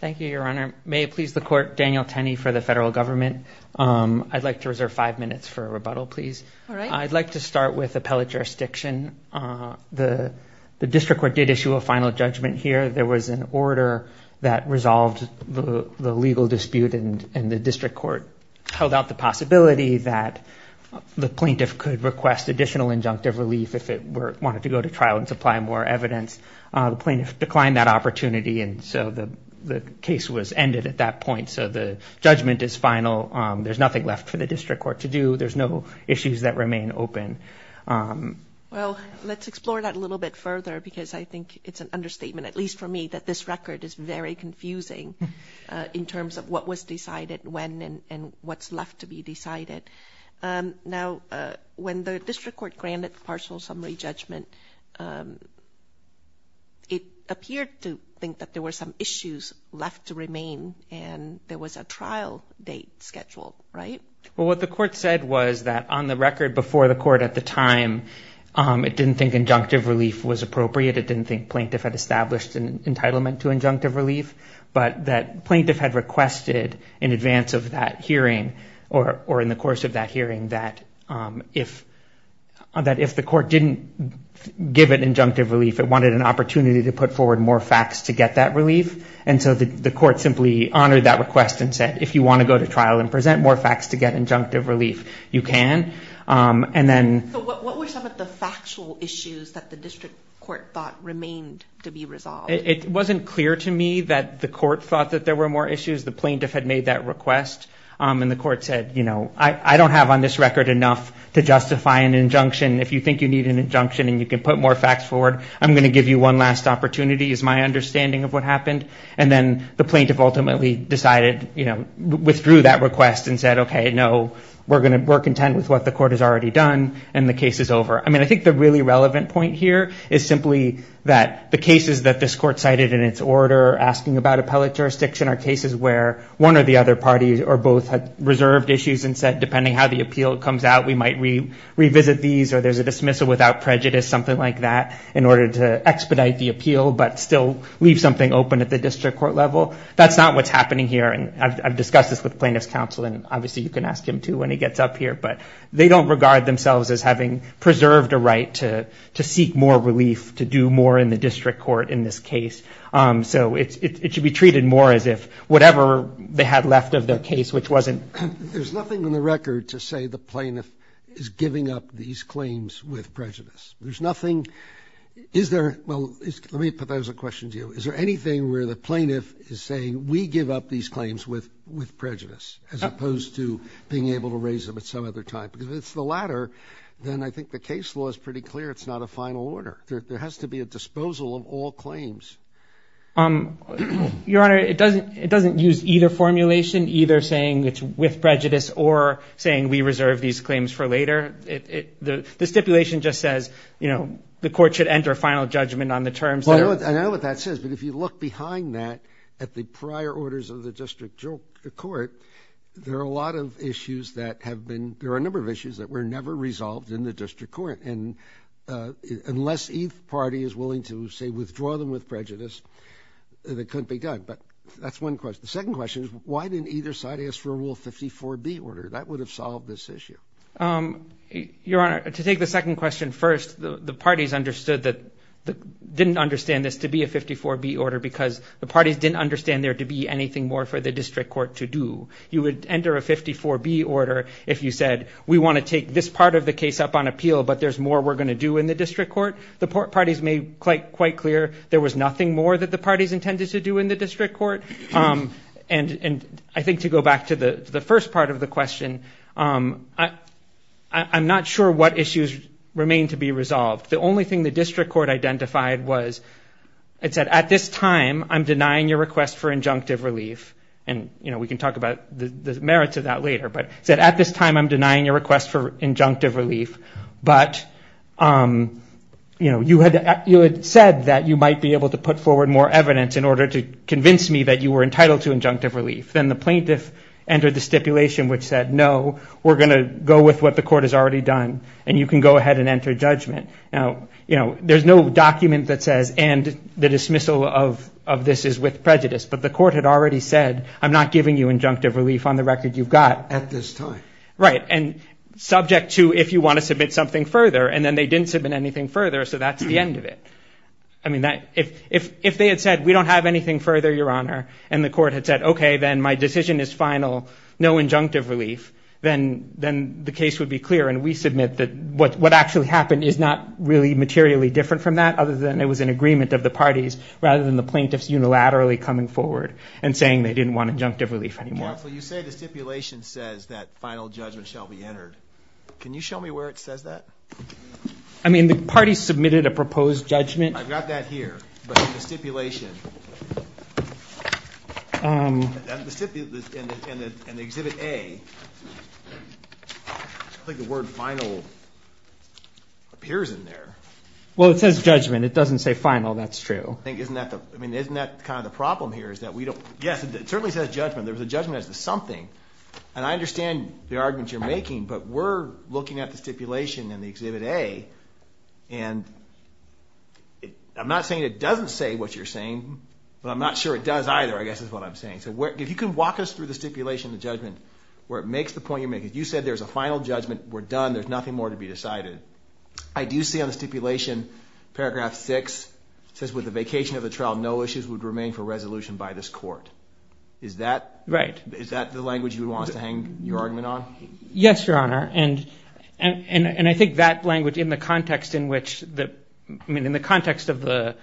Thank you, Your Honor. May it please the court, Daniel Tenney for the federal government. I'd like to reserve five minutes for a rebuttal, please. I'd like to start with appellate jurisdiction. The district court did issue a final judgment here. There was an order that resolved the legal dispute and the district court held out the possibility that the plaintiff could request additional injunctive relief if it wanted to go to trial and supply more evidence. The plaintiff declined that opportunity, and so the case was ended at that point. So the judgment is final. There's nothing left for the district court to do. There's no issues that remain open. Judge Cardone Well, let's explore that a little bit further because I think it's an understatement, at least for me, that this record is very confusing in terms of what was decided when and what's left to be decided. Now, when the district court granted the partial summary judgment, it appeared to think that there were some issues left to remain and there was a trial date scheduled, right? Daniel Tenney Well, what the court said was that on the record before the court at the time, it didn't think injunctive relief was appropriate. It thought that the plaintiff had requested in advance of that hearing or in the course of that hearing that if the court didn't give it injunctive relief, it wanted an opportunity to put forward more facts to get that relief. And so the court simply honored that request and said, if you want to go to trial and present more facts to get injunctive relief, you can. And then... Judge Cardone So what were some of the factual issues that the district court thought remained to be resolved? Daniel Tenney It wasn't clear to me that the court thought that there were more issues. The plaintiff had made that request and the court said, you know, I don't have on this record enough to justify an injunction. If you think you need an injunction and you can put more facts forward, I'm going to give you one last opportunity is my understanding of what happened. And then the plaintiff ultimately decided, you know, withdrew that request and said, okay, no, we're content with what the court has already done and the case is over. I mean, I think the really relevant point here is simply that the cases that this court cited in its order asking about appellate jurisdiction are cases where one or the other parties or both had reserved issues and said, depending how the appeal comes out, we might revisit these or there's a dismissal without prejudice, something like that, in order to expedite the appeal, but still leave something open at the district court level. That's not what's happening here. And I've discussed this with plaintiff's counsel and obviously you can ask him too when he gets up here, but they don't regard themselves as having preserved a right to seek more relief, to do more in the district court in this case. So it should be treated more as if whatever they had left of their case, which wasn't... There's nothing in the record to say the plaintiff is giving up these claims with prejudice. There's nothing, is there, well, let me put that as a question to you. Is there anything where the plaintiff is saying we give up these claims with prejudice as opposed to being able to raise them at some other time? Because if it's the latter, then I think the case law is pretty clear it's not a final order. There has to be a disposal of all claims. Your Honor, it doesn't use either formulation, either saying it's with prejudice or saying we reserve these claims for later. The stipulation just says the court should enter final judgment on the terms. I know what that says, but if you look behind that at the prior orders of the district court, there are a lot of issues that have been, there are a number of issues that were never resolved in the district court. And unless either party is willing to say withdraw them with prejudice, it couldn't be done. But that's one question. The second question is why didn't either side ask for a Rule 54B order? That would have solved this issue. Your Honor, to take the second question first, the parties understood that, didn't understand this to be a 54B order because the parties didn't understand there to be anything more for the district court to do. You would enter a 54B order if you said we want to take this part of the case up on appeal, but there's more we're going to do in the district court. The parties made quite clear there was nothing more that the parties intended to do in the district court. And I think to go back to the first part of the question, I'm not sure what issues remain to be resolved. The only thing the district court identified was, it can talk about the merits of that later, but it said at this time I'm denying your request for injunctive relief. But you had said that you might be able to put forward more evidence in order to convince me that you were entitled to injunctive relief. Then the plaintiff entered the stipulation which said no, we're going to go with what the court has already done and you can go ahead and enter judgment. Now, there's no document that says and the dismissal of this is with prejudice, but the court had already said I'm not giving you injunctive relief on the record you've got. At this time. Right, and subject to if you want to submit something further, and then they didn't submit anything further, so that's the end of it. If they had said we don't have anything further, Your Honor, and the court had said okay, then my decision is final, no injunctive relief, then the case would be clear and we submit that what actually happened is not really materially different from that other than it was an agreement of the parties rather than the plaintiffs unilaterally coming forward and saying they didn't want injunctive relief anymore. Counsel, you say the stipulation says that final judgment shall be entered. Can you show me where it says that? I mean, the parties submitted a proposed judgment. I've got that here, but the stipulation, and the exhibit A, I think the word final appears in there. Well, it says judgment. It doesn't say final, that's true. I think, isn't that the, I mean, isn't that kind of the problem here is that we don't, yes, it certainly says judgment. There's a judgment as to something, and I understand the argument you're making, but we're looking at the stipulation and the exhibit A, and I'm not saying it doesn't say what you're saying, but I'm not sure it does either, I guess is what I'm saying. So if you can walk us through the stipulation, the judgment, where it makes the point you're making. You said there's a final judgment, we're done, there's nothing more to be decided. I do see on the stipulation, paragraph six says with the vacation of the trial, no issues would remain for resolution by this court. Is that the language you would want us to hang your argument on? Yes, Your Honor, and I think that language in the context in which the, I mean, in the context of the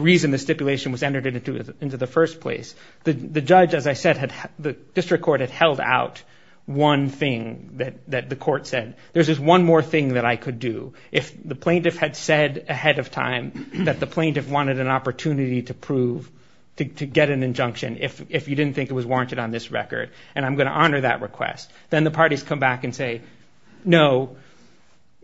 reason the stipulation was entered into the first place, the judge, as I said, the district court had held out one thing that the court said. There's this one more thing that I could do. If the plaintiff had said ahead of time that the plaintiff wanted an opportunity to prove, to get an injunction, if you didn't think it was warranted on this record, and I'm going to honor that request, then the parties come back and say, no,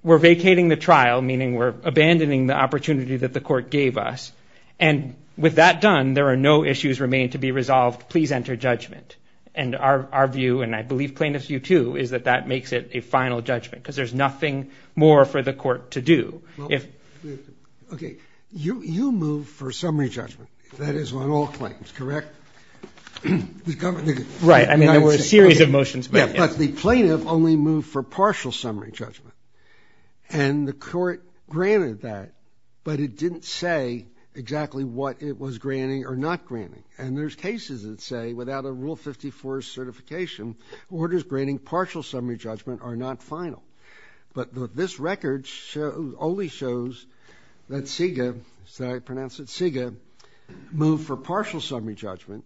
we're vacating the trial, meaning we're abandoning the opportunity that the court gave us, and with that done, there are no issues remain to be resolved. Please enter judgment, and our view, and I believe plaintiff's view too, is that that makes it a final judgment, because there's nothing more for the court to do. Okay, you move for summary judgment. That is on all claims, correct? Right, I mean, there were a series of motions. Yeah, but the plaintiff only moved for partial summary judgment, and the court granted that, but it didn't say exactly what it was granting or not granting, and there's cases that say without a Rule 54 certification, orders granting partial summary judgment are not final, but this record only shows that SIGA moved for partial summary judgment,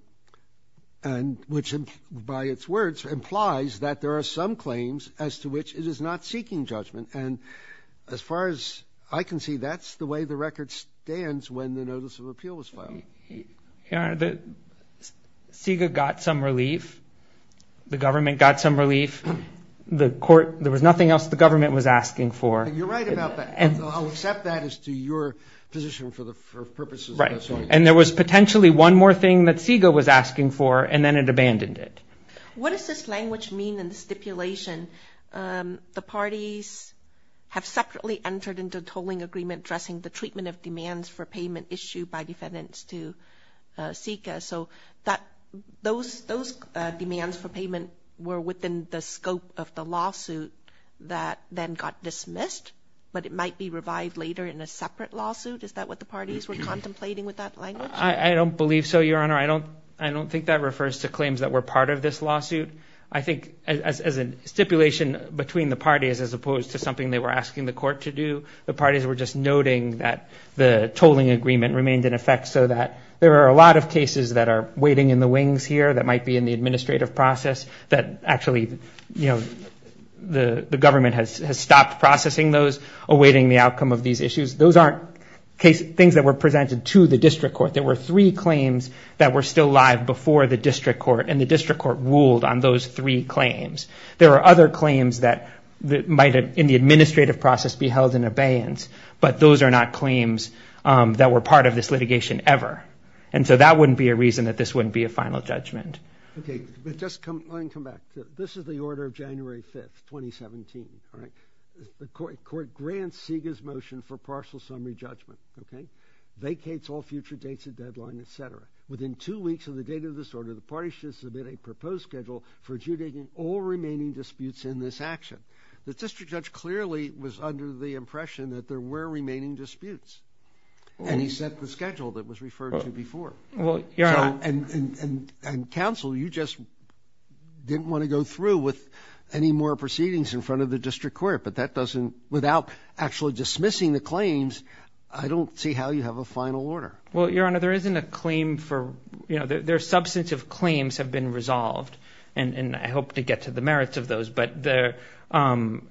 which by its words implies that there are some claims as to which it is not seeking judgment, and as far as I can see, that's the way the record stands when the notice of appeal was filed. Your Honor, SIGA got some relief. The government got some relief. There was nothing else the government was asking for. You're right about that. I'll accept that as to your position for purposes of this one. Right, and there was potentially one more thing that SIGA was asking for, and then it abandoned it. What does this language mean in the stipulation? The parties have separately entered into a tolling agreement addressing the treatment of demands for payment issued by defendants to SIGA, so those demands for payment were within the scope of the lawsuit that then got dismissed, but it might be revived later in a separate lawsuit. Is that what the parties were contemplating with that language? I don't believe so, Your Honor. I don't think that refers to claims that were part of this lawsuit. I think as a stipulation between the parties as opposed to something they were asking the court to do, the parties were just noting that the tolling agreement remained in effect so that there are a lot of cases that are the government has stopped processing those awaiting the outcome of these issues. Those aren't things that were presented to the district court. There were three claims that were still live before the district court, and the district court ruled on those three claims. There are other claims that might have, in the administrative process, be held in abeyance, but those are not claims that were part of this litigation ever, and so that wouldn't be a reason that this wouldn't be a final judgment. Okay, but just come and come back. This is the order of January 5th, 2017, all right? The court grants SIGA's motion for partial summary judgment, okay? Vacates all future dates of deadline, etc. Within two weeks of the date of this order, the parties should submit a proposed schedule for adjudicating all remaining disputes in this action. The district judge clearly was under the impression that there were remaining disputes, and he set the schedule that was referred to before, and counsel, you just didn't want to go through with any more proceedings in front of the district court, but that doesn't, without actually dismissing the claims, I don't see how you have a final order. Well, your honor, there isn't a claim for, you know, there are substantive claims have been resolved, and I hope to get to the merits of those, but the only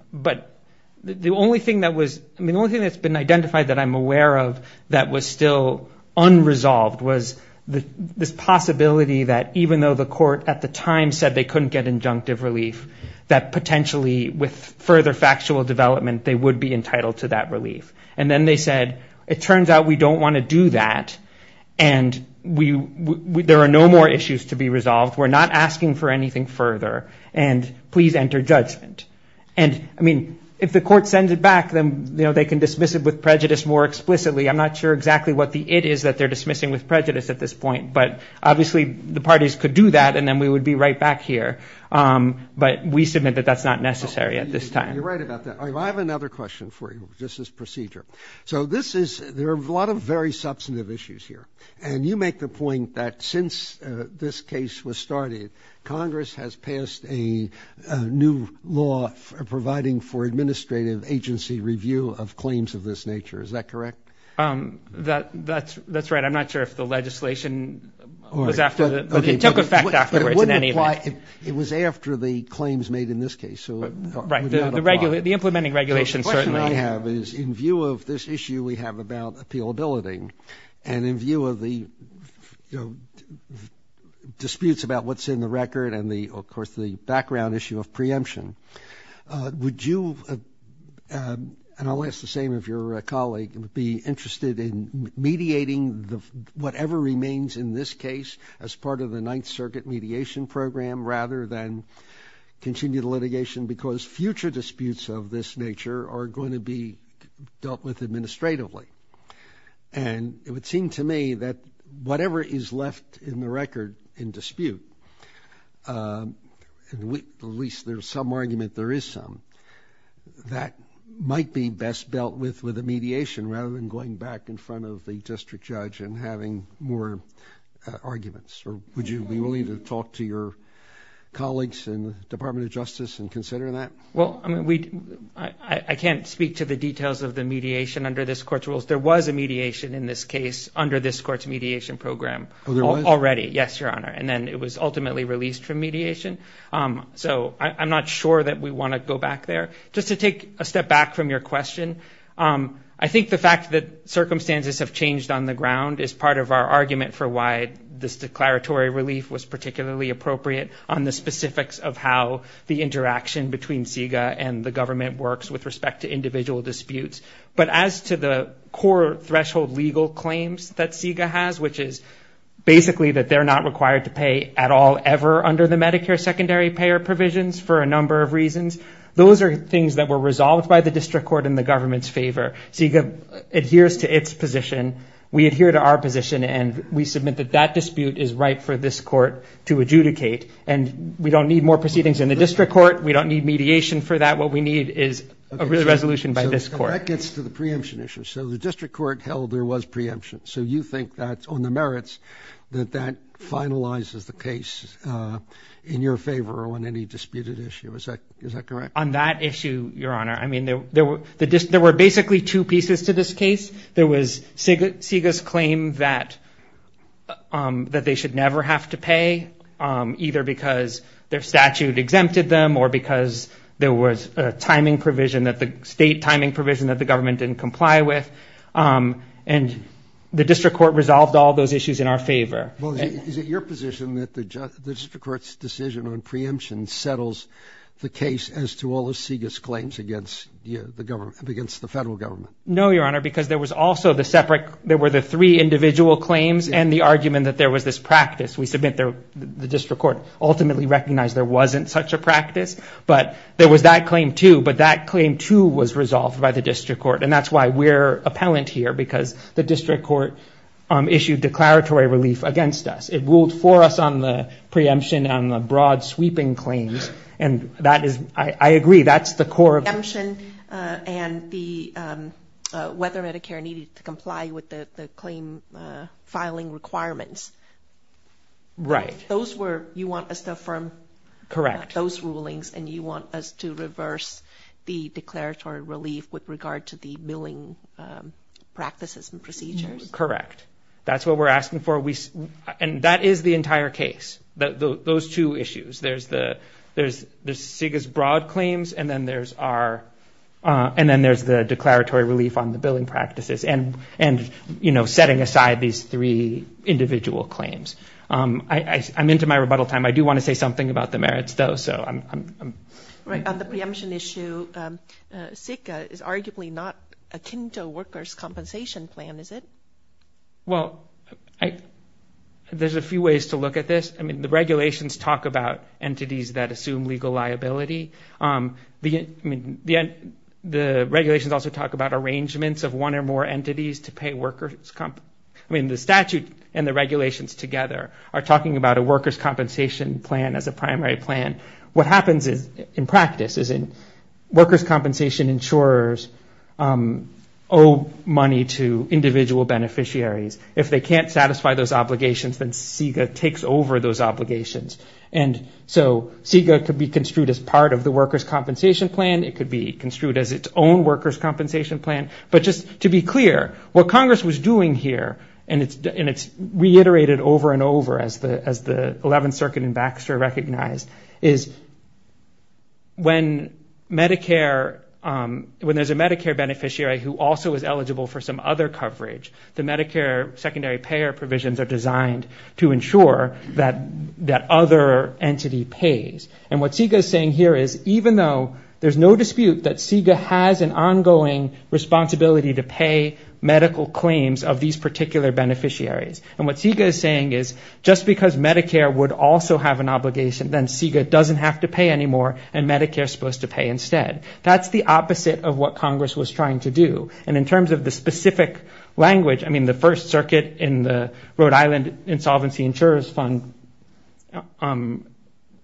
thing that was, I mean, the only thing that's been identified that I'm aware of that was still unresolved was this possibility that even though the court at the time said they couldn't get injunctive relief, that potentially with further factual development, they would be entitled to that relief. And then they said, it turns out we don't want to do that, and there are no more issues to be resolved. We're not asking for anything further, and please enter judgment. And, I mean, if the court sends it back, then, you know, they can dismiss it with prejudice more it is that they're dismissing with prejudice at this point, but obviously the parties could do that, and then we would be right back here, but we submit that that's not necessary at this time. You're right about that. I have another question for you, just as procedure. So this is, there are a lot of very substantive issues here, and you make the point that since this case was started, Congress has passed a new law providing for administrative agency review of claims of this that's that's right. I'm not sure if the legislation was after that, but it took effect afterwards. It wouldn't apply if it was after the claims made in this case, so right. The regular the implementing regulations certainly have is in view of this issue we have about appealability and in view of the disputes about what's in the record and the of course the background issue of preemption. Would you, and I'll ask the same of your colleague, be interested in mediating the whatever remains in this case as part of the Ninth Circuit mediation program rather than continue the litigation because future disputes of this nature are going to be dealt with administratively, and it would seem to me that whatever is left in the record in dispute, and we at least there's some argument there is some, that might be best dealt with with mediation rather than going back in front of the district judge and having more arguments. Or would you be willing to talk to your colleagues in the Department of Justice and consider that? Well, I mean we I can't speak to the details of the mediation under this court's rules. There was a mediation in this case under this court's mediation program already. Yes, your honor, and then it was ultimately released from mediation. So I'm not sure that we want to go back there. Just to take a step back from your question, I think the fact that circumstances have changed on the ground is part of our argument for why this declaratory relief was particularly appropriate on the specifics of how the interaction between CEGA and the government works with respect to individual disputes. But as to the core threshold legal claims that CEGA has, which is basically that they're not required to pay at all ever under the Medicare secondary payer provisions for a were resolved by the district court in the government's favor. CEGA adheres to its position. We adhere to our position and we submit that that dispute is right for this court to adjudicate. And we don't need more proceedings in the district court. We don't need mediation for that. What we need is a resolution by this court. That gets to the preemption issue. So the district court held there was preemption. So you think that on the merits that that finalizes the case in your favor or on any disputed issue. Is that correct? On that issue, Your Honor, I mean, there were basically two pieces to this case. There was CEGA's claim that they should never have to pay either because their statute exempted them or because there was a timing provision that the state timing provision that the government didn't comply with. And the district court resolved all those issues in our favor. Well, is it your position that the district court's decision on preemption settles the case as to all the CEGA's claims against the government, against the federal government? No, Your Honor, because there was also the separate, there were the three individual claims and the argument that there was this practice. We submit the district court ultimately recognized there wasn't such a practice, but there was that claim too. But that claim too was resolved by the district court. And that's why we're appellant here because the district court issued declaratory relief against us. It ruled for us on the preemption on the broad sweeping claims. And that is, I agree, that's the core of... Preemption and whether Medicare needed to comply with the claim filing requirements. Right. Those were, you want us to affirm those rulings and you want us to reverse the declaratory relief with regard to the billing practices and procedures? Correct. That's what we're asking for. And that is the entire case, those two issues. There's the CEGA's broad claims and then there's our, and then there's the declaratory relief on the billing practices and setting aside these three individual claims. I'm into my rebuttal time. I do want to say something about the merits though, so I'm... Right. On the preemption issue, CEGA is arguably not a kinto workers' compensation plan, is it? Well, there's a few ways to look at this. I mean, the regulations talk about entities that assume legal liability. The regulations also talk about arrangements of one or more entities to pay workers' comp... I mean, the statute and the regulations together are talking about a workers' compensation plan as a primary plan. What happens in practice is in workers' compensation insurers owe money to individual beneficiaries. If they can't satisfy those obligations, then CEGA takes over those obligations. And so CEGA could be construed as part of the workers' compensation plan. It could be construed as its own workers' compensation plan. But just to be clear, what Congress was doing here, and it's reiterated over and over as the 11th who also is eligible for some other coverage. The Medicare secondary payer provisions are designed to ensure that that other entity pays. And what CEGA is saying here is even though there's no dispute that CEGA has an ongoing responsibility to pay medical claims of these particular beneficiaries. And what CEGA is saying is just because Medicare would also have an obligation, then CEGA doesn't have to pay anymore and Medicare is supposed to pay instead. That's the opposite of what Congress was trying to do. And in terms of the specific language, I mean, the first circuit in the Rhode Island insolvency insurers fund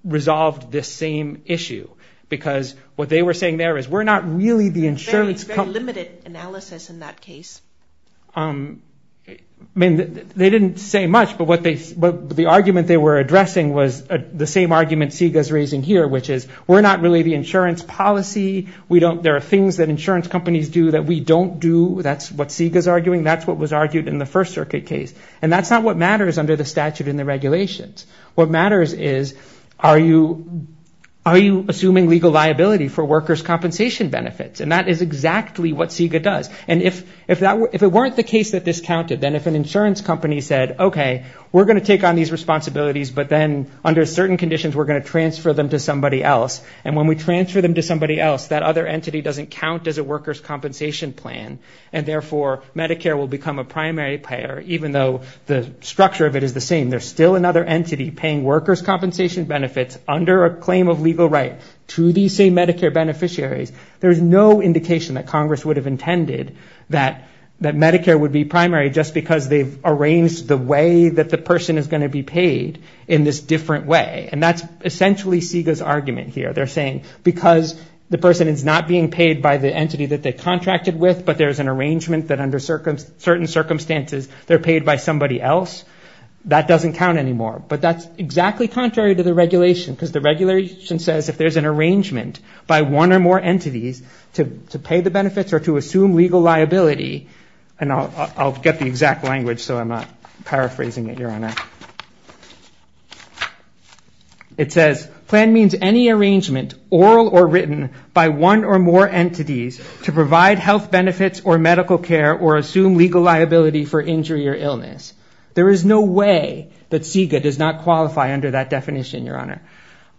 resolved this same issue because what they were saying there is we're not really the insurance... It's very limited analysis in that case. I mean, they didn't say much, but the argument they were addressing was the same argument CEGA is raising here, which is we're not really the insurance policy. There are things that insurance companies do that we don't do. That's what CEGA is arguing. That's what was argued in the first circuit case. And that's not what matters under the statute and the regulations. What matters is are you assuming legal liability for workers' compensation benefits? And that is exactly what CEGA does. And if it weren't the case that this counted, then if an insurance company said, okay, we're going to take on these responsibilities, but then under certain conditions, we're going to transfer them to somebody else. And when we transfer them to somebody else, that other entity doesn't count as a workers' compensation plan. And therefore, Medicare will become a primary payer, even though the structure of it is the same. There's still another entity paying workers' compensation benefits under a claim of legal right to these same Medicare beneficiaries. There is no indication that Congress would have intended that Medicare would be primary just because they've arranged the way that the person is going to be paid in this different way. And that's essentially CEGA's argument here. They're saying, because the person is not being paid by the entity that they contracted with, but there's an arrangement that under certain circumstances, they're paid by somebody else, that doesn't count anymore. But that's exactly contrary to the regulation, because the regulation says if there's an arrangement by one or more entities to pay the benefits or to assume legal liability, and I'll get the exact language so I'm not paraphrasing it, Your Honor. It says, plan means any arrangement, oral or written, by one or more entities to provide health benefits or medical care or assume legal liability for injury or illness. There is no way that CEGA does not qualify under that definition, Your Honor.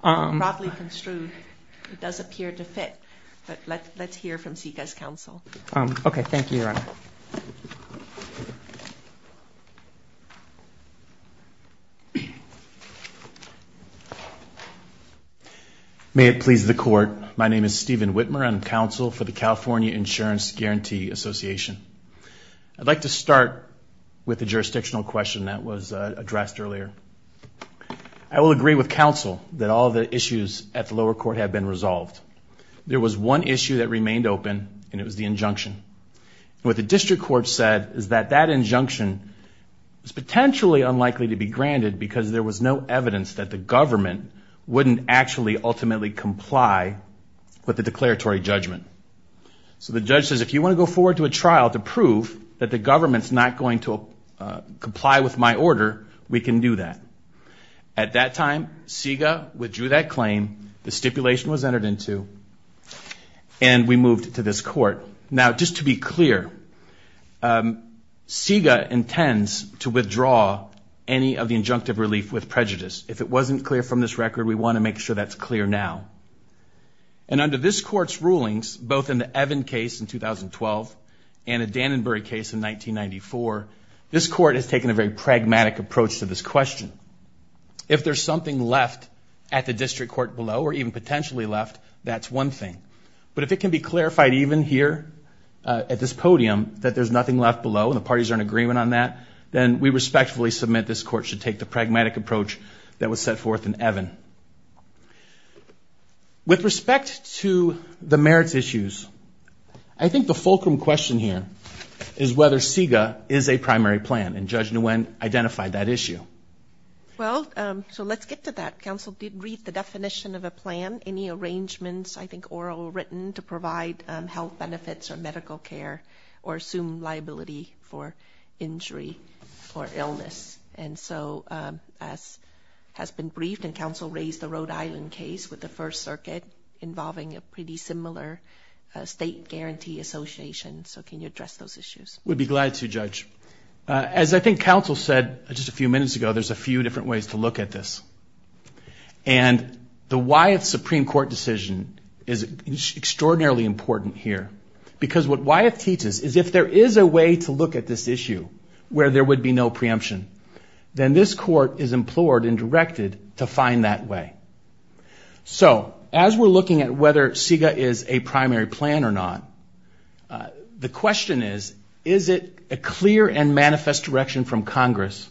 Probably construed. It does appear to fit. But let's hear from CEGA's counsel. Okay. Thank you, Your Honor. May it please the court. My name is Stephen Whitmer. I'm counsel for the California Insurance Guarantee Association. I'd like to start with the jurisdictional question that was addressed earlier. I will agree with counsel that all the issues at the lower court have been resolved. There was one issue that remained open, and it was the injunction. What the district court said is that that injunction was potentially unlikely to be granted because there was no evidence that the government wouldn't actually ultimately comply with the declaratory judgment. So the judge says, if you want to go forward to a trial to prove that the government's not going to comply with my order, we can do that. At that time, CEGA withdrew that claim. The stipulation was entered into, and we moved to this court. Now, just to be clear, CEGA intends to withdraw any of the injunctive relief with prejudice. If it wasn't clear from this record, we want to make sure that's clear now. And under this court's rulings, both in the Evan case in 2012 and the Dannenberg case in 1994, this court has taken a very pragmatic approach to this question. If there's something left at the district court below, or even potentially left, that's one thing. But if it can be clarified even here at this podium that there's nothing left below, and the parties are in agreement on that, then we respectfully submit this court should take the pragmatic approach that was set forth in Evan. With respect to the merits issues, I think the fulcrum question here is whether CEGA is a primary plan, and Judge Nguyen identified that issue. Well, so let's get to that. Counsel did read the definition of a plan. Any arrangements, I think, oral or written to provide health benefits or medical care or assume liability for injury or illness. And so, as has been briefed, and counsel raised the Rhode Island case with the First Circuit involving a pretty similar state guarantee association. So can you just a few minutes ago, there's a few different ways to look at this. And the Wyeth Supreme Court decision is extraordinarily important here, because what Wyeth teaches is if there is a way to look at this issue where there would be no preemption, then this court is implored and directed to find that way. So as we're looking at whether CEGA is a primary plan or not, the question is, is it a clear and manifest direction from Congress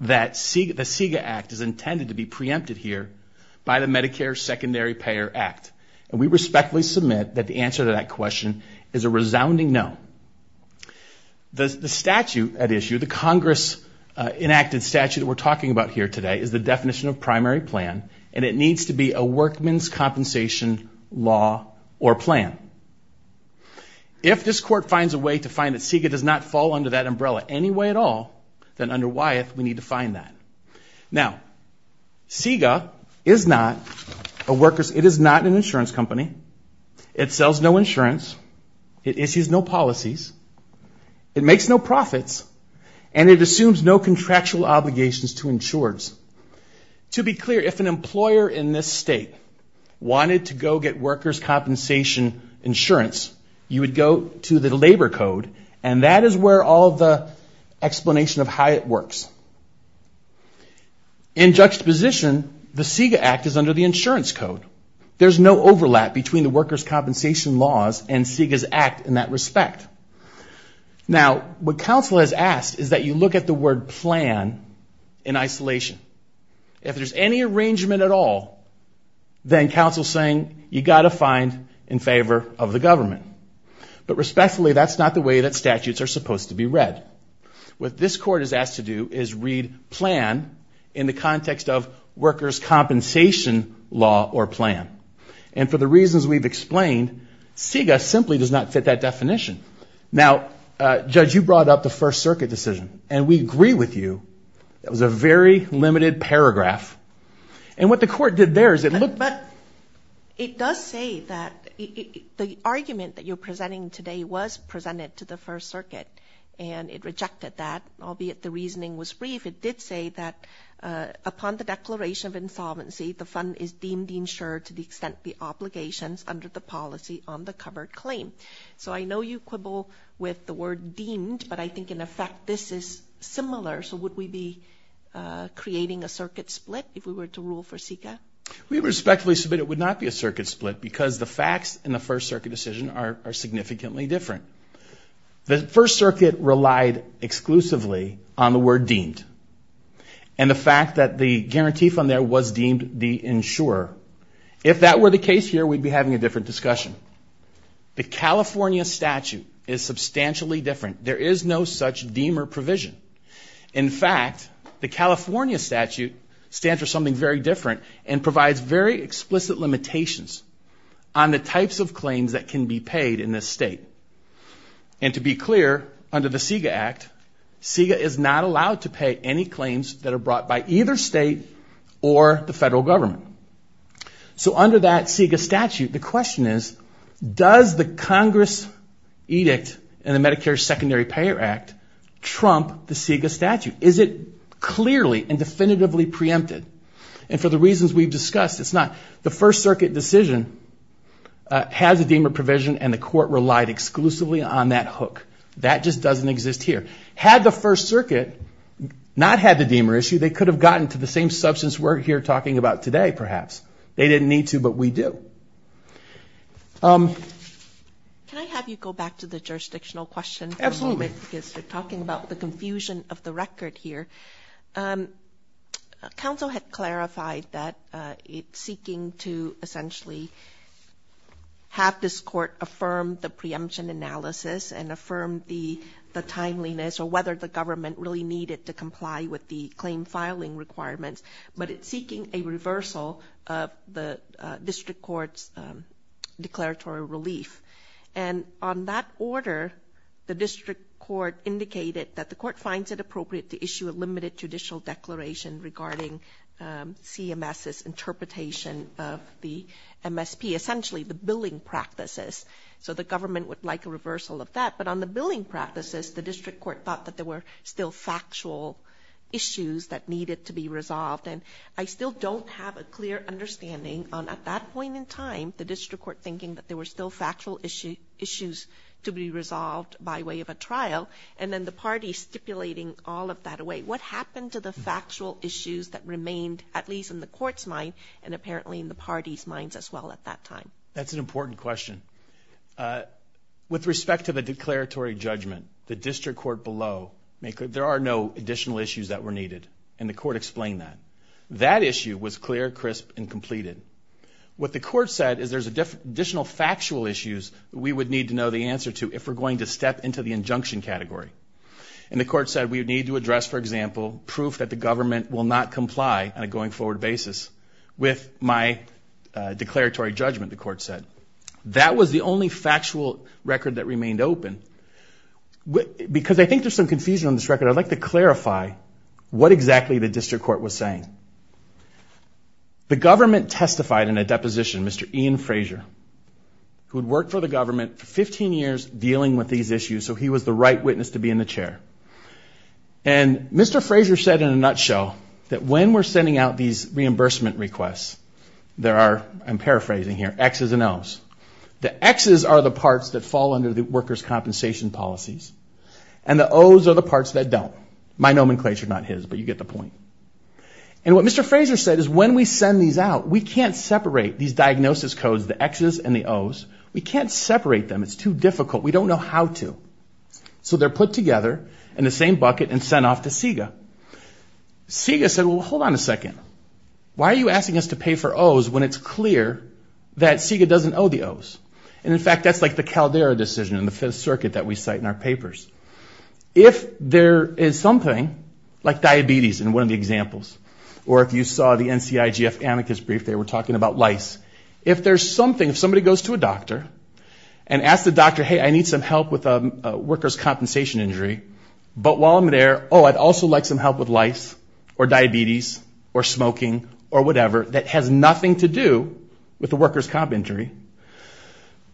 that the CEGA Act is intended to be preempted here by the Medicare Secondary Payer Act? And we respectfully submit that the answer to that question is a resounding no. The statute at issue, the Congress-enacted statute that we're talking about here today is the definition of primary plan, and it needs to be a workman's compensation law or plan. If this court finds a way to find that CEGA does not fall under that umbrella any way at all, then under Wyeth, we need to find that. Now, CEGA is not a worker's, it is not an insurance company. It sells no insurance. It issues no policies. It makes no profits. And it assumes no contractual obligations to insurers. To be clear, if an employer in this state wanted to go get worker's compensation insurance, you would go to the labor code, and that is where all the explanation of how it works. In juxtaposition, the CEGA Act is under the insurance code. There's no overlap between the worker's compensation laws and CEGA's Act in that respect. Now, what is the word plan in isolation? If there's any arrangement at all, then counsel's saying you've got to find in favor of the government. But respectfully, that's not the way that statutes are supposed to be read. What this court is asked to do is read plan in the context of worker's compensation law or plan. And for the reasons we've explained, CEGA simply does not fit that That was a very limited paragraph. And what the court did there is it looked... But it does say that the argument that you're presenting today was presented to the First Circuit and it rejected that, albeit the reasoning was brief. It did say that upon the declaration of insolvency, the fund is deemed insured to the extent the obligations under the policy on the covered claim. So I know you quibble with the word deemed, but I think in effect, this is similar. So would we be creating a circuit split if we were to rule for CEGA? We respectfully submit it would not be a circuit split because the facts in the First Circuit decision are significantly different. The First Circuit relied exclusively on the word deemed. And the fact that the guarantee fund there was deemed the insurer. If that were the case here, we'd be having a different discussion. The California statute is substantially different. There is no such deemer provision. In fact, the California statute stands for something very different and provides very explicit limitations on the types of claims that can be paid in this state. And to be clear, under the CEGA Act, CEGA is not allowed to pay any claims that are brought by either state or the federal government. So under that CEGA statute, the question is, does the Congress edict in the Medicare Secondary Payer Act trump the CEGA statute? Is it clearly and definitively preempted? And for the reasons we've discussed, it's not. The First Circuit decision has a deemer provision and the court relied exclusively on that hook. That just doesn't exist here. Had the First Circuit not had the deemer issue, they could have gotten to the same Can I have you go back to the jurisdictional question? Absolutely. Because you're talking about the confusion of the record here. Council had clarified that it's seeking to essentially have this court affirm the preemption analysis and affirm the timeliness or whether the government really needed to comply with the claim filing requirements. But it's seeking a reversal of the district court's declaratory relief. And on that order, the district court indicated that the court finds it appropriate to issue a limited judicial declaration regarding CMS's interpretation of the MSP, essentially the billing practices. So the government would like a reversal of that. But on the billing practices, the district court thought that there were still factual issues that needed to be resolved. And I still don't have a clear understanding on at that point in time, the district court thinking that there were still factual issues to be resolved by way of a trial. And then the party stipulating all of that away. What happened to the factual issues that remained at least in the court's mind and apparently in the party's minds as well at that time? That's an important question. With respect to the declaratory judgment, the district court there are no additional issues that were needed. And the court explained that. That issue was clear, crisp, and completed. What the court said is there's additional factual issues we would need to know the answer to if we're going to step into the injunction category. And the court said we would need to address, for example, proof that the government will not comply on a going forward basis with my declaratory judgment, the court said. That was the only factual record that remained open. Because I think there's some confusion on this record, I'd like to clarify what exactly the district court was saying. The government testified in a deposition, Mr. Ian Frazier, who had worked for the government for 15 years dealing with these issues, so he was the right witness to be in the chair. And Mr. Frazier said in a nutshell that when we're sending out these reimbursement requests, there are, I'm paraphrasing here, X's and O's. The X's are the parts that fall under the workers' compensation policies, and the O's are the parts that don't. My nomenclature, not his, but you get the point. And what Mr. Frazier said is when we send these out, we can't separate these diagnosis codes, the X's and the O's. We can't separate them. It's too difficult. We don't know how to. So they're put together in the same bucket and sent off to CEGA. CEGA said, well, hold on a second. Why are you asking us to pay for O's when it's clear that CEGA doesn't owe the O's? And in the Caldera decision in the Fifth Circuit that we cite in our papers, if there is something like diabetes in one of the examples, or if you saw the NCIGF amicus brief, they were talking about lice. If there's something, if somebody goes to a doctor and asks the doctor, hey, I need some help with a workers' compensation injury, but while I'm there, oh, I'd also like some help with lice or diabetes or smoking or whatever that has nothing to do with the workers' compensation injury,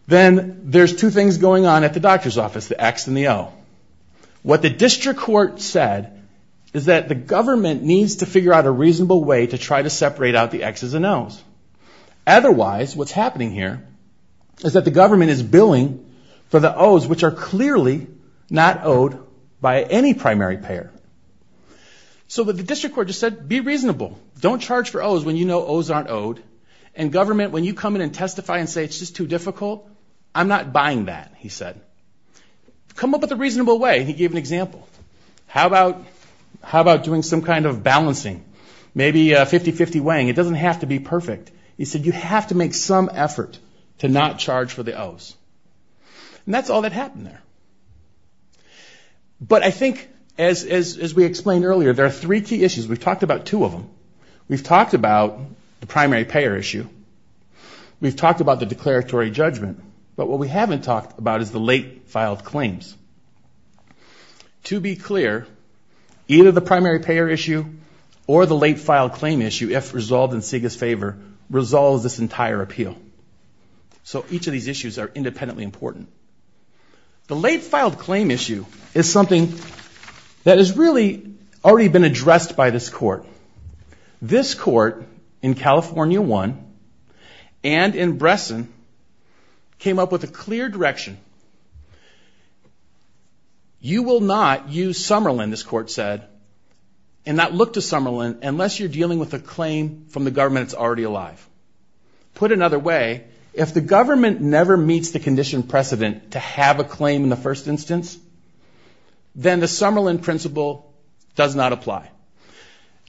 then there's two things going on at the doctor's office, the X and the O. What the district court said is that the government needs to figure out a reasonable way to try to separate out the X's and O's. Otherwise, what's happening here is that the government is billing for the O's, which are clearly not owed by any primary payer. So the district court just said, be reasonable. Don't charge for O's when you know O's aren't owed. And government, when you come in and testify and say it's just too difficult, I'm not buying that, he said. Come up with a reasonable way, he gave an example. How about doing some kind of balancing? Maybe 50-50 weighing. It doesn't have to be perfect. He said you have to make some effort to not charge for the O's. And that's all that happened there. But I think, as we explained earlier, there are three key issues. We've talked about two of them. We've talked about the primary payer issue. We've talked about the declaratory judgment. But what we haven't talked about is the late-filed claims. To be clear, either the primary payer issue or the late-filed claim issue, if resolved in SIGA's favor, resolves this entire appeal. So each of these issues are independently important. The late-filed claim issue is something that has really already been addressed by this court. This court in California 1 and in Bresson came up with a clear direction. You will not use Summerlin, this court said, and not look to Summerlin unless you're dealing with a claim from the government that's already alive. Put another way, if the government never meets the condition precedent to have a claim in the first instance, then the Summerlin principle does not apply.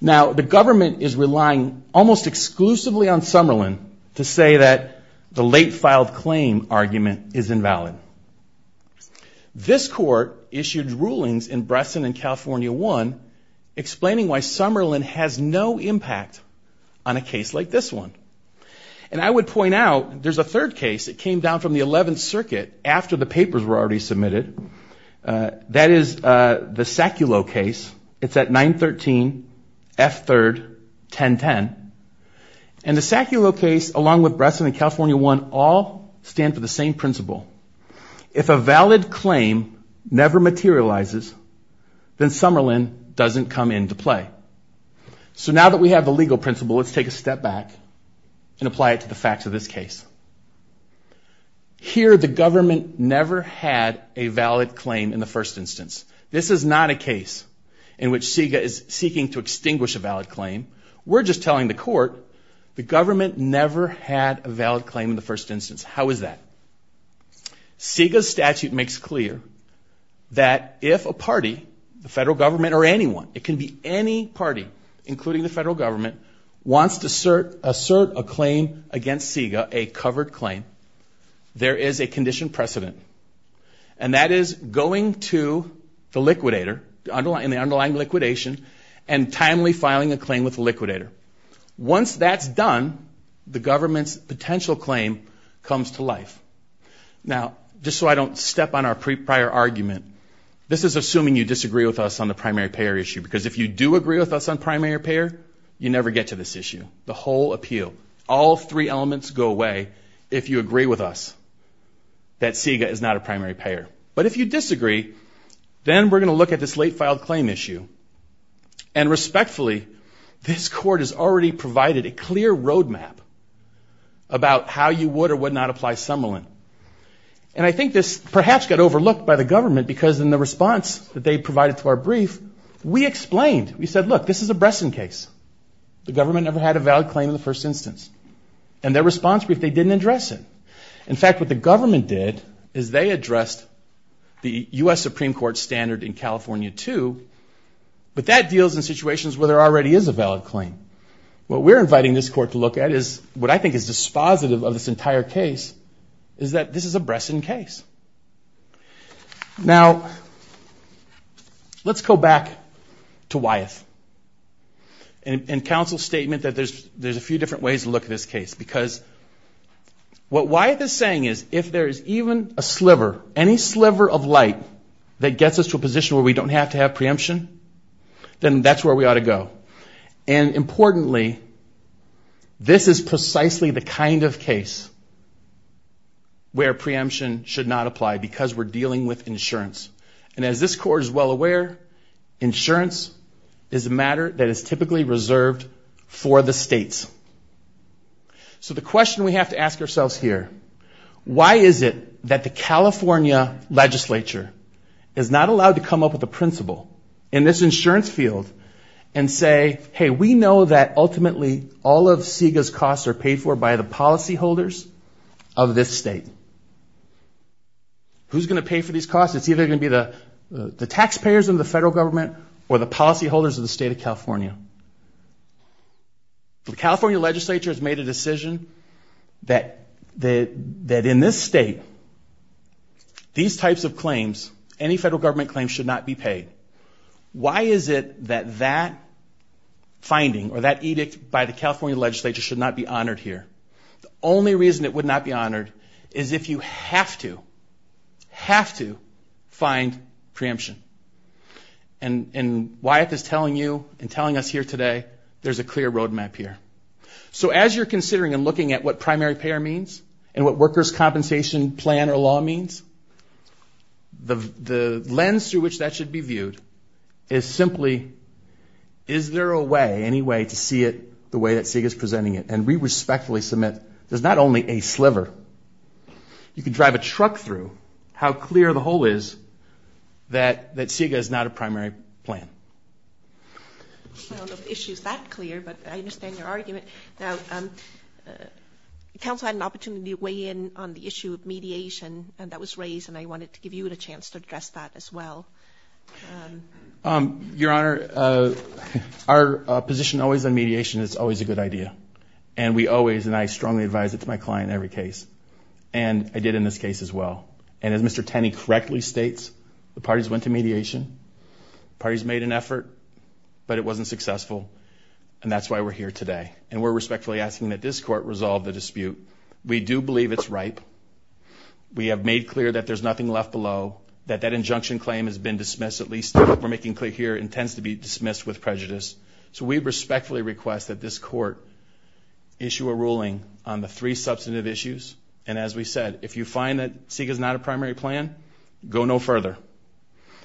Now, the government is relying almost exclusively on Summerlin to say that the late-filed claim argument is invalid. This court issued rulings in Bresson and California 1 explaining why Summerlin has no impact on a case like this one. And I would point out there's a third case that came down from the 11th Circuit after the papers were already that is the SACULO case. It's at 913 F3, 1010. And the SACULO case along with Bresson and California 1 all stand for the same principle. If a valid claim never materializes, then Summerlin doesn't come into play. So now that we have the legal principle, let's take a step back and apply it to the facts of this case. Here the government never had a valid claim in the first instance. This is not a case in which SIGA is seeking to extinguish a valid claim. We're just telling the court the government never had a valid claim in the first instance. How is that? SIGA's statute makes clear that if a party, the federal government or anyone, it can be any party, including the SIGA, a covered claim, there is a condition precedent. And that is going to the liquidator in the underlying liquidation and timely filing a claim with the liquidator. Once that's done, the government's potential claim comes to life. Now, just so I don't step on our prior argument, this is assuming you disagree with us on the primary payer issue. Because if you do agree with us on primary payer, you never get to this issue, the whole appeal. All three elements go away if you agree with us that SIGA is not a primary payer. But if you disagree, then we're going to look at this late filed claim issue. And respectfully, this court has already provided a clear roadmap about how you would or would not apply Summerlin. And I think this perhaps got overlooked by the government because in the response that they provided to our brief, we explained, we said, look, this is a Bresson case. The government never had a valid claim in the first instance. And their response brief, they didn't address it. In fact, what the government did is they addressed the U.S. Supreme Court standard in California too. But that deals in situations where there already is a valid claim. What we're inviting this court to look at is what I think is dispositive of this entire case is that this is a Bresson case. Now, let's go back to Wyeth and counsel's statement that there's a few different ways to look at this case. Because what Wyeth is saying is if there is even a sliver, any sliver of light that gets us to a position where we don't have to then that's where we ought to go. And importantly, this is precisely the kind of case where preemption should not apply because we're dealing with insurance. And as this court is well aware, insurance is a matter that is typically reserved for the states. So the question we have to ask ourselves here, why is it that the California legislature is not allowed to come up with a insurance field and say, hey, we know that ultimately all of CEGA's costs are paid for by the policyholders of this state. Who's going to pay for these costs? It's either going to be the taxpayers of the federal government or the policyholders of the state of California. The California legislature has made a decision that in this state, these types of claims, any federal government claims should not be paid. Why is it that that finding or that edict by the California legislature should not be honored here? The only reason it would not be honored is if you have to, have to find preemption. And Wyeth is telling you and telling us here today, there's a clear roadmap here. So as you're considering and looking at what primary payer means and what workers' compensation plan or law means, the lens through which that should be viewed is simply, is there a way, any way to see it the way that CEGA is presenting it? And we respectfully submit, there's not only a sliver, you can drive a truck through how clear the hole is that CEGA is not a primary plan. I don't know if the issue is that clear, but I understand your and that was raised and I wanted to give you a chance to address that as well. Your Honor, our position always on mediation, it's always a good idea. And we always, and I strongly advise it to my client in every case. And I did in this case as well. And as Mr. Tenney correctly states, the parties went to mediation, parties made an effort, but it wasn't successful. And that's why we're here today. And we're respectfully asking that this court resolve the dispute. We do believe it's ripe. We have made clear that there's nothing left below, that that injunction claim has been dismissed, at least we're making clear here, intends to be dismissed with prejudice. So we respectfully request that this court issue a ruling on the three substantive issues. And as we said, if you find that CEGA is not a primary plan, go no further.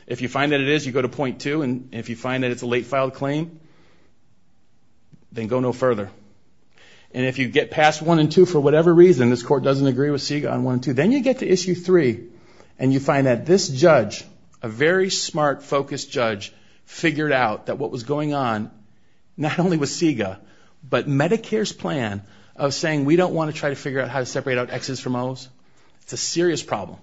If you find that it is, you go to point two. And if you find that it's a late filed claim, then go no further. And if you get past one and two, for whatever reason, this court doesn't agree with CEGA on one and two, then you get to issue three. And you find that this judge, a very smart, focused judge, figured out that what was going on, not only with CEGA, but Medicare's plan of saying, we don't want to try to figure out how to separate out X's from O's. It's a serious problem.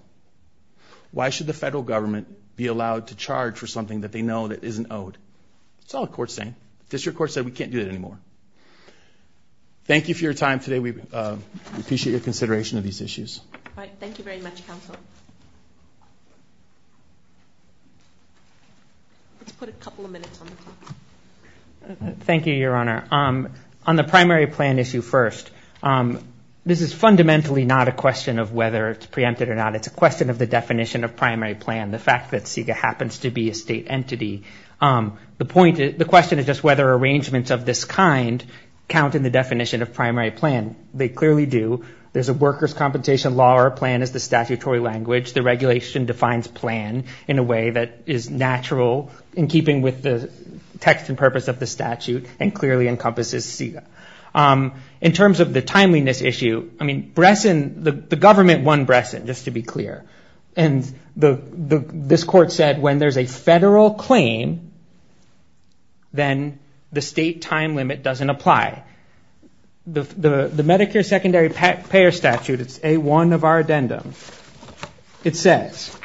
Why should the federal government be allowed to charge for something that they know that isn't owed? It's all a court saying. District court said we can't do it anymore. Thank you for your time today. We appreciate your consideration of these issues. All right. Thank you very much, counsel. Let's put a couple of minutes on the clock. Thank you, Your Honor. On the primary plan issue first, this is fundamentally not a question of whether it's preempted or not. It's a question of the definition of primary plan. The fact that the question is whether arrangements of this kind count in the definition of primary plan. They clearly do. There's a workers' compensation law. Our plan is the statutory language. The regulation defines plan in a way that is natural in keeping with the text and purpose of the statute and clearly encompasses CEGA. In terms of the timeliness issue, the government won Bresson, just to be clear. This court said when there's a federal claim, then the state time limit doesn't apply. The Medicare secondary payer statute, it's A1 of our addendum. It says,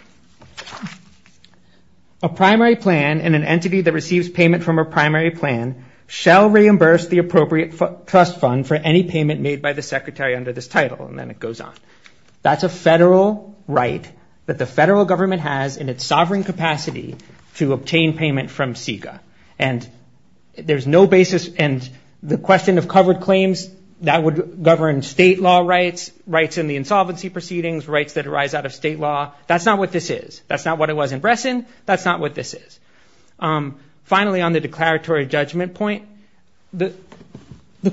a primary plan and an entity that receives payment from a primary plan shall reimburse the appropriate trust fund for any payment made by the secretary under this title. And then it goes on. That's a federal right that the federal government has in its sovereign capacity to obtain payment from CEGA. And there's no basis in the question of covered claims that would govern state law rights, rights in the insolvency proceedings, rights that arise out of state law. That's not what this is. That's not what it was in Bresson. That's not what this is. Finally, on the declaratory judgment point, the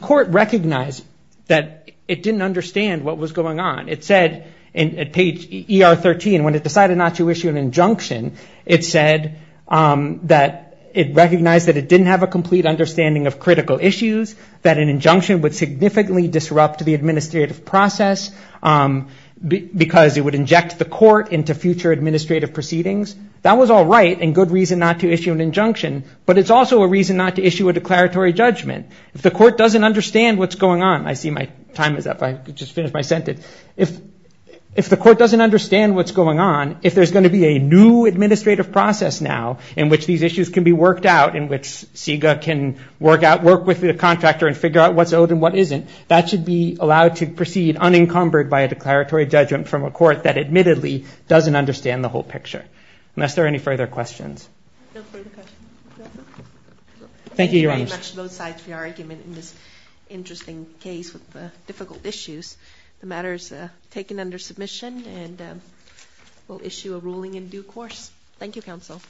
court recognized that it didn't understand what was going on. It said at page ER13, when it decided not to issue an injunction, it said that it recognized that it didn't have a complete understanding of critical issues, that an injunction would significantly disrupt the administrative process because it would inject the court into future administrative proceedings. That was all right and good reason not to issue an injunction, but it's also a reason not to issue a declaratory judgment. If the court doesn't understand what's going on, I see my time is up. I just finished my sentence. If the court doesn't understand what's going on, if there's going to be a new administrative process now in which these issues can be worked out, in which CEGA can work with the contractor and figure out what's owed and what isn't, that should be allowed to proceed unencumbered by a declaratory judgment from a court that admittedly doesn't understand the picture. Unless there are any further questions. Thank you very much both sides for your argument in this interesting case with the difficult issues. The matter is taken under submission and we'll issue a ruling in due course. Thank you, counsel.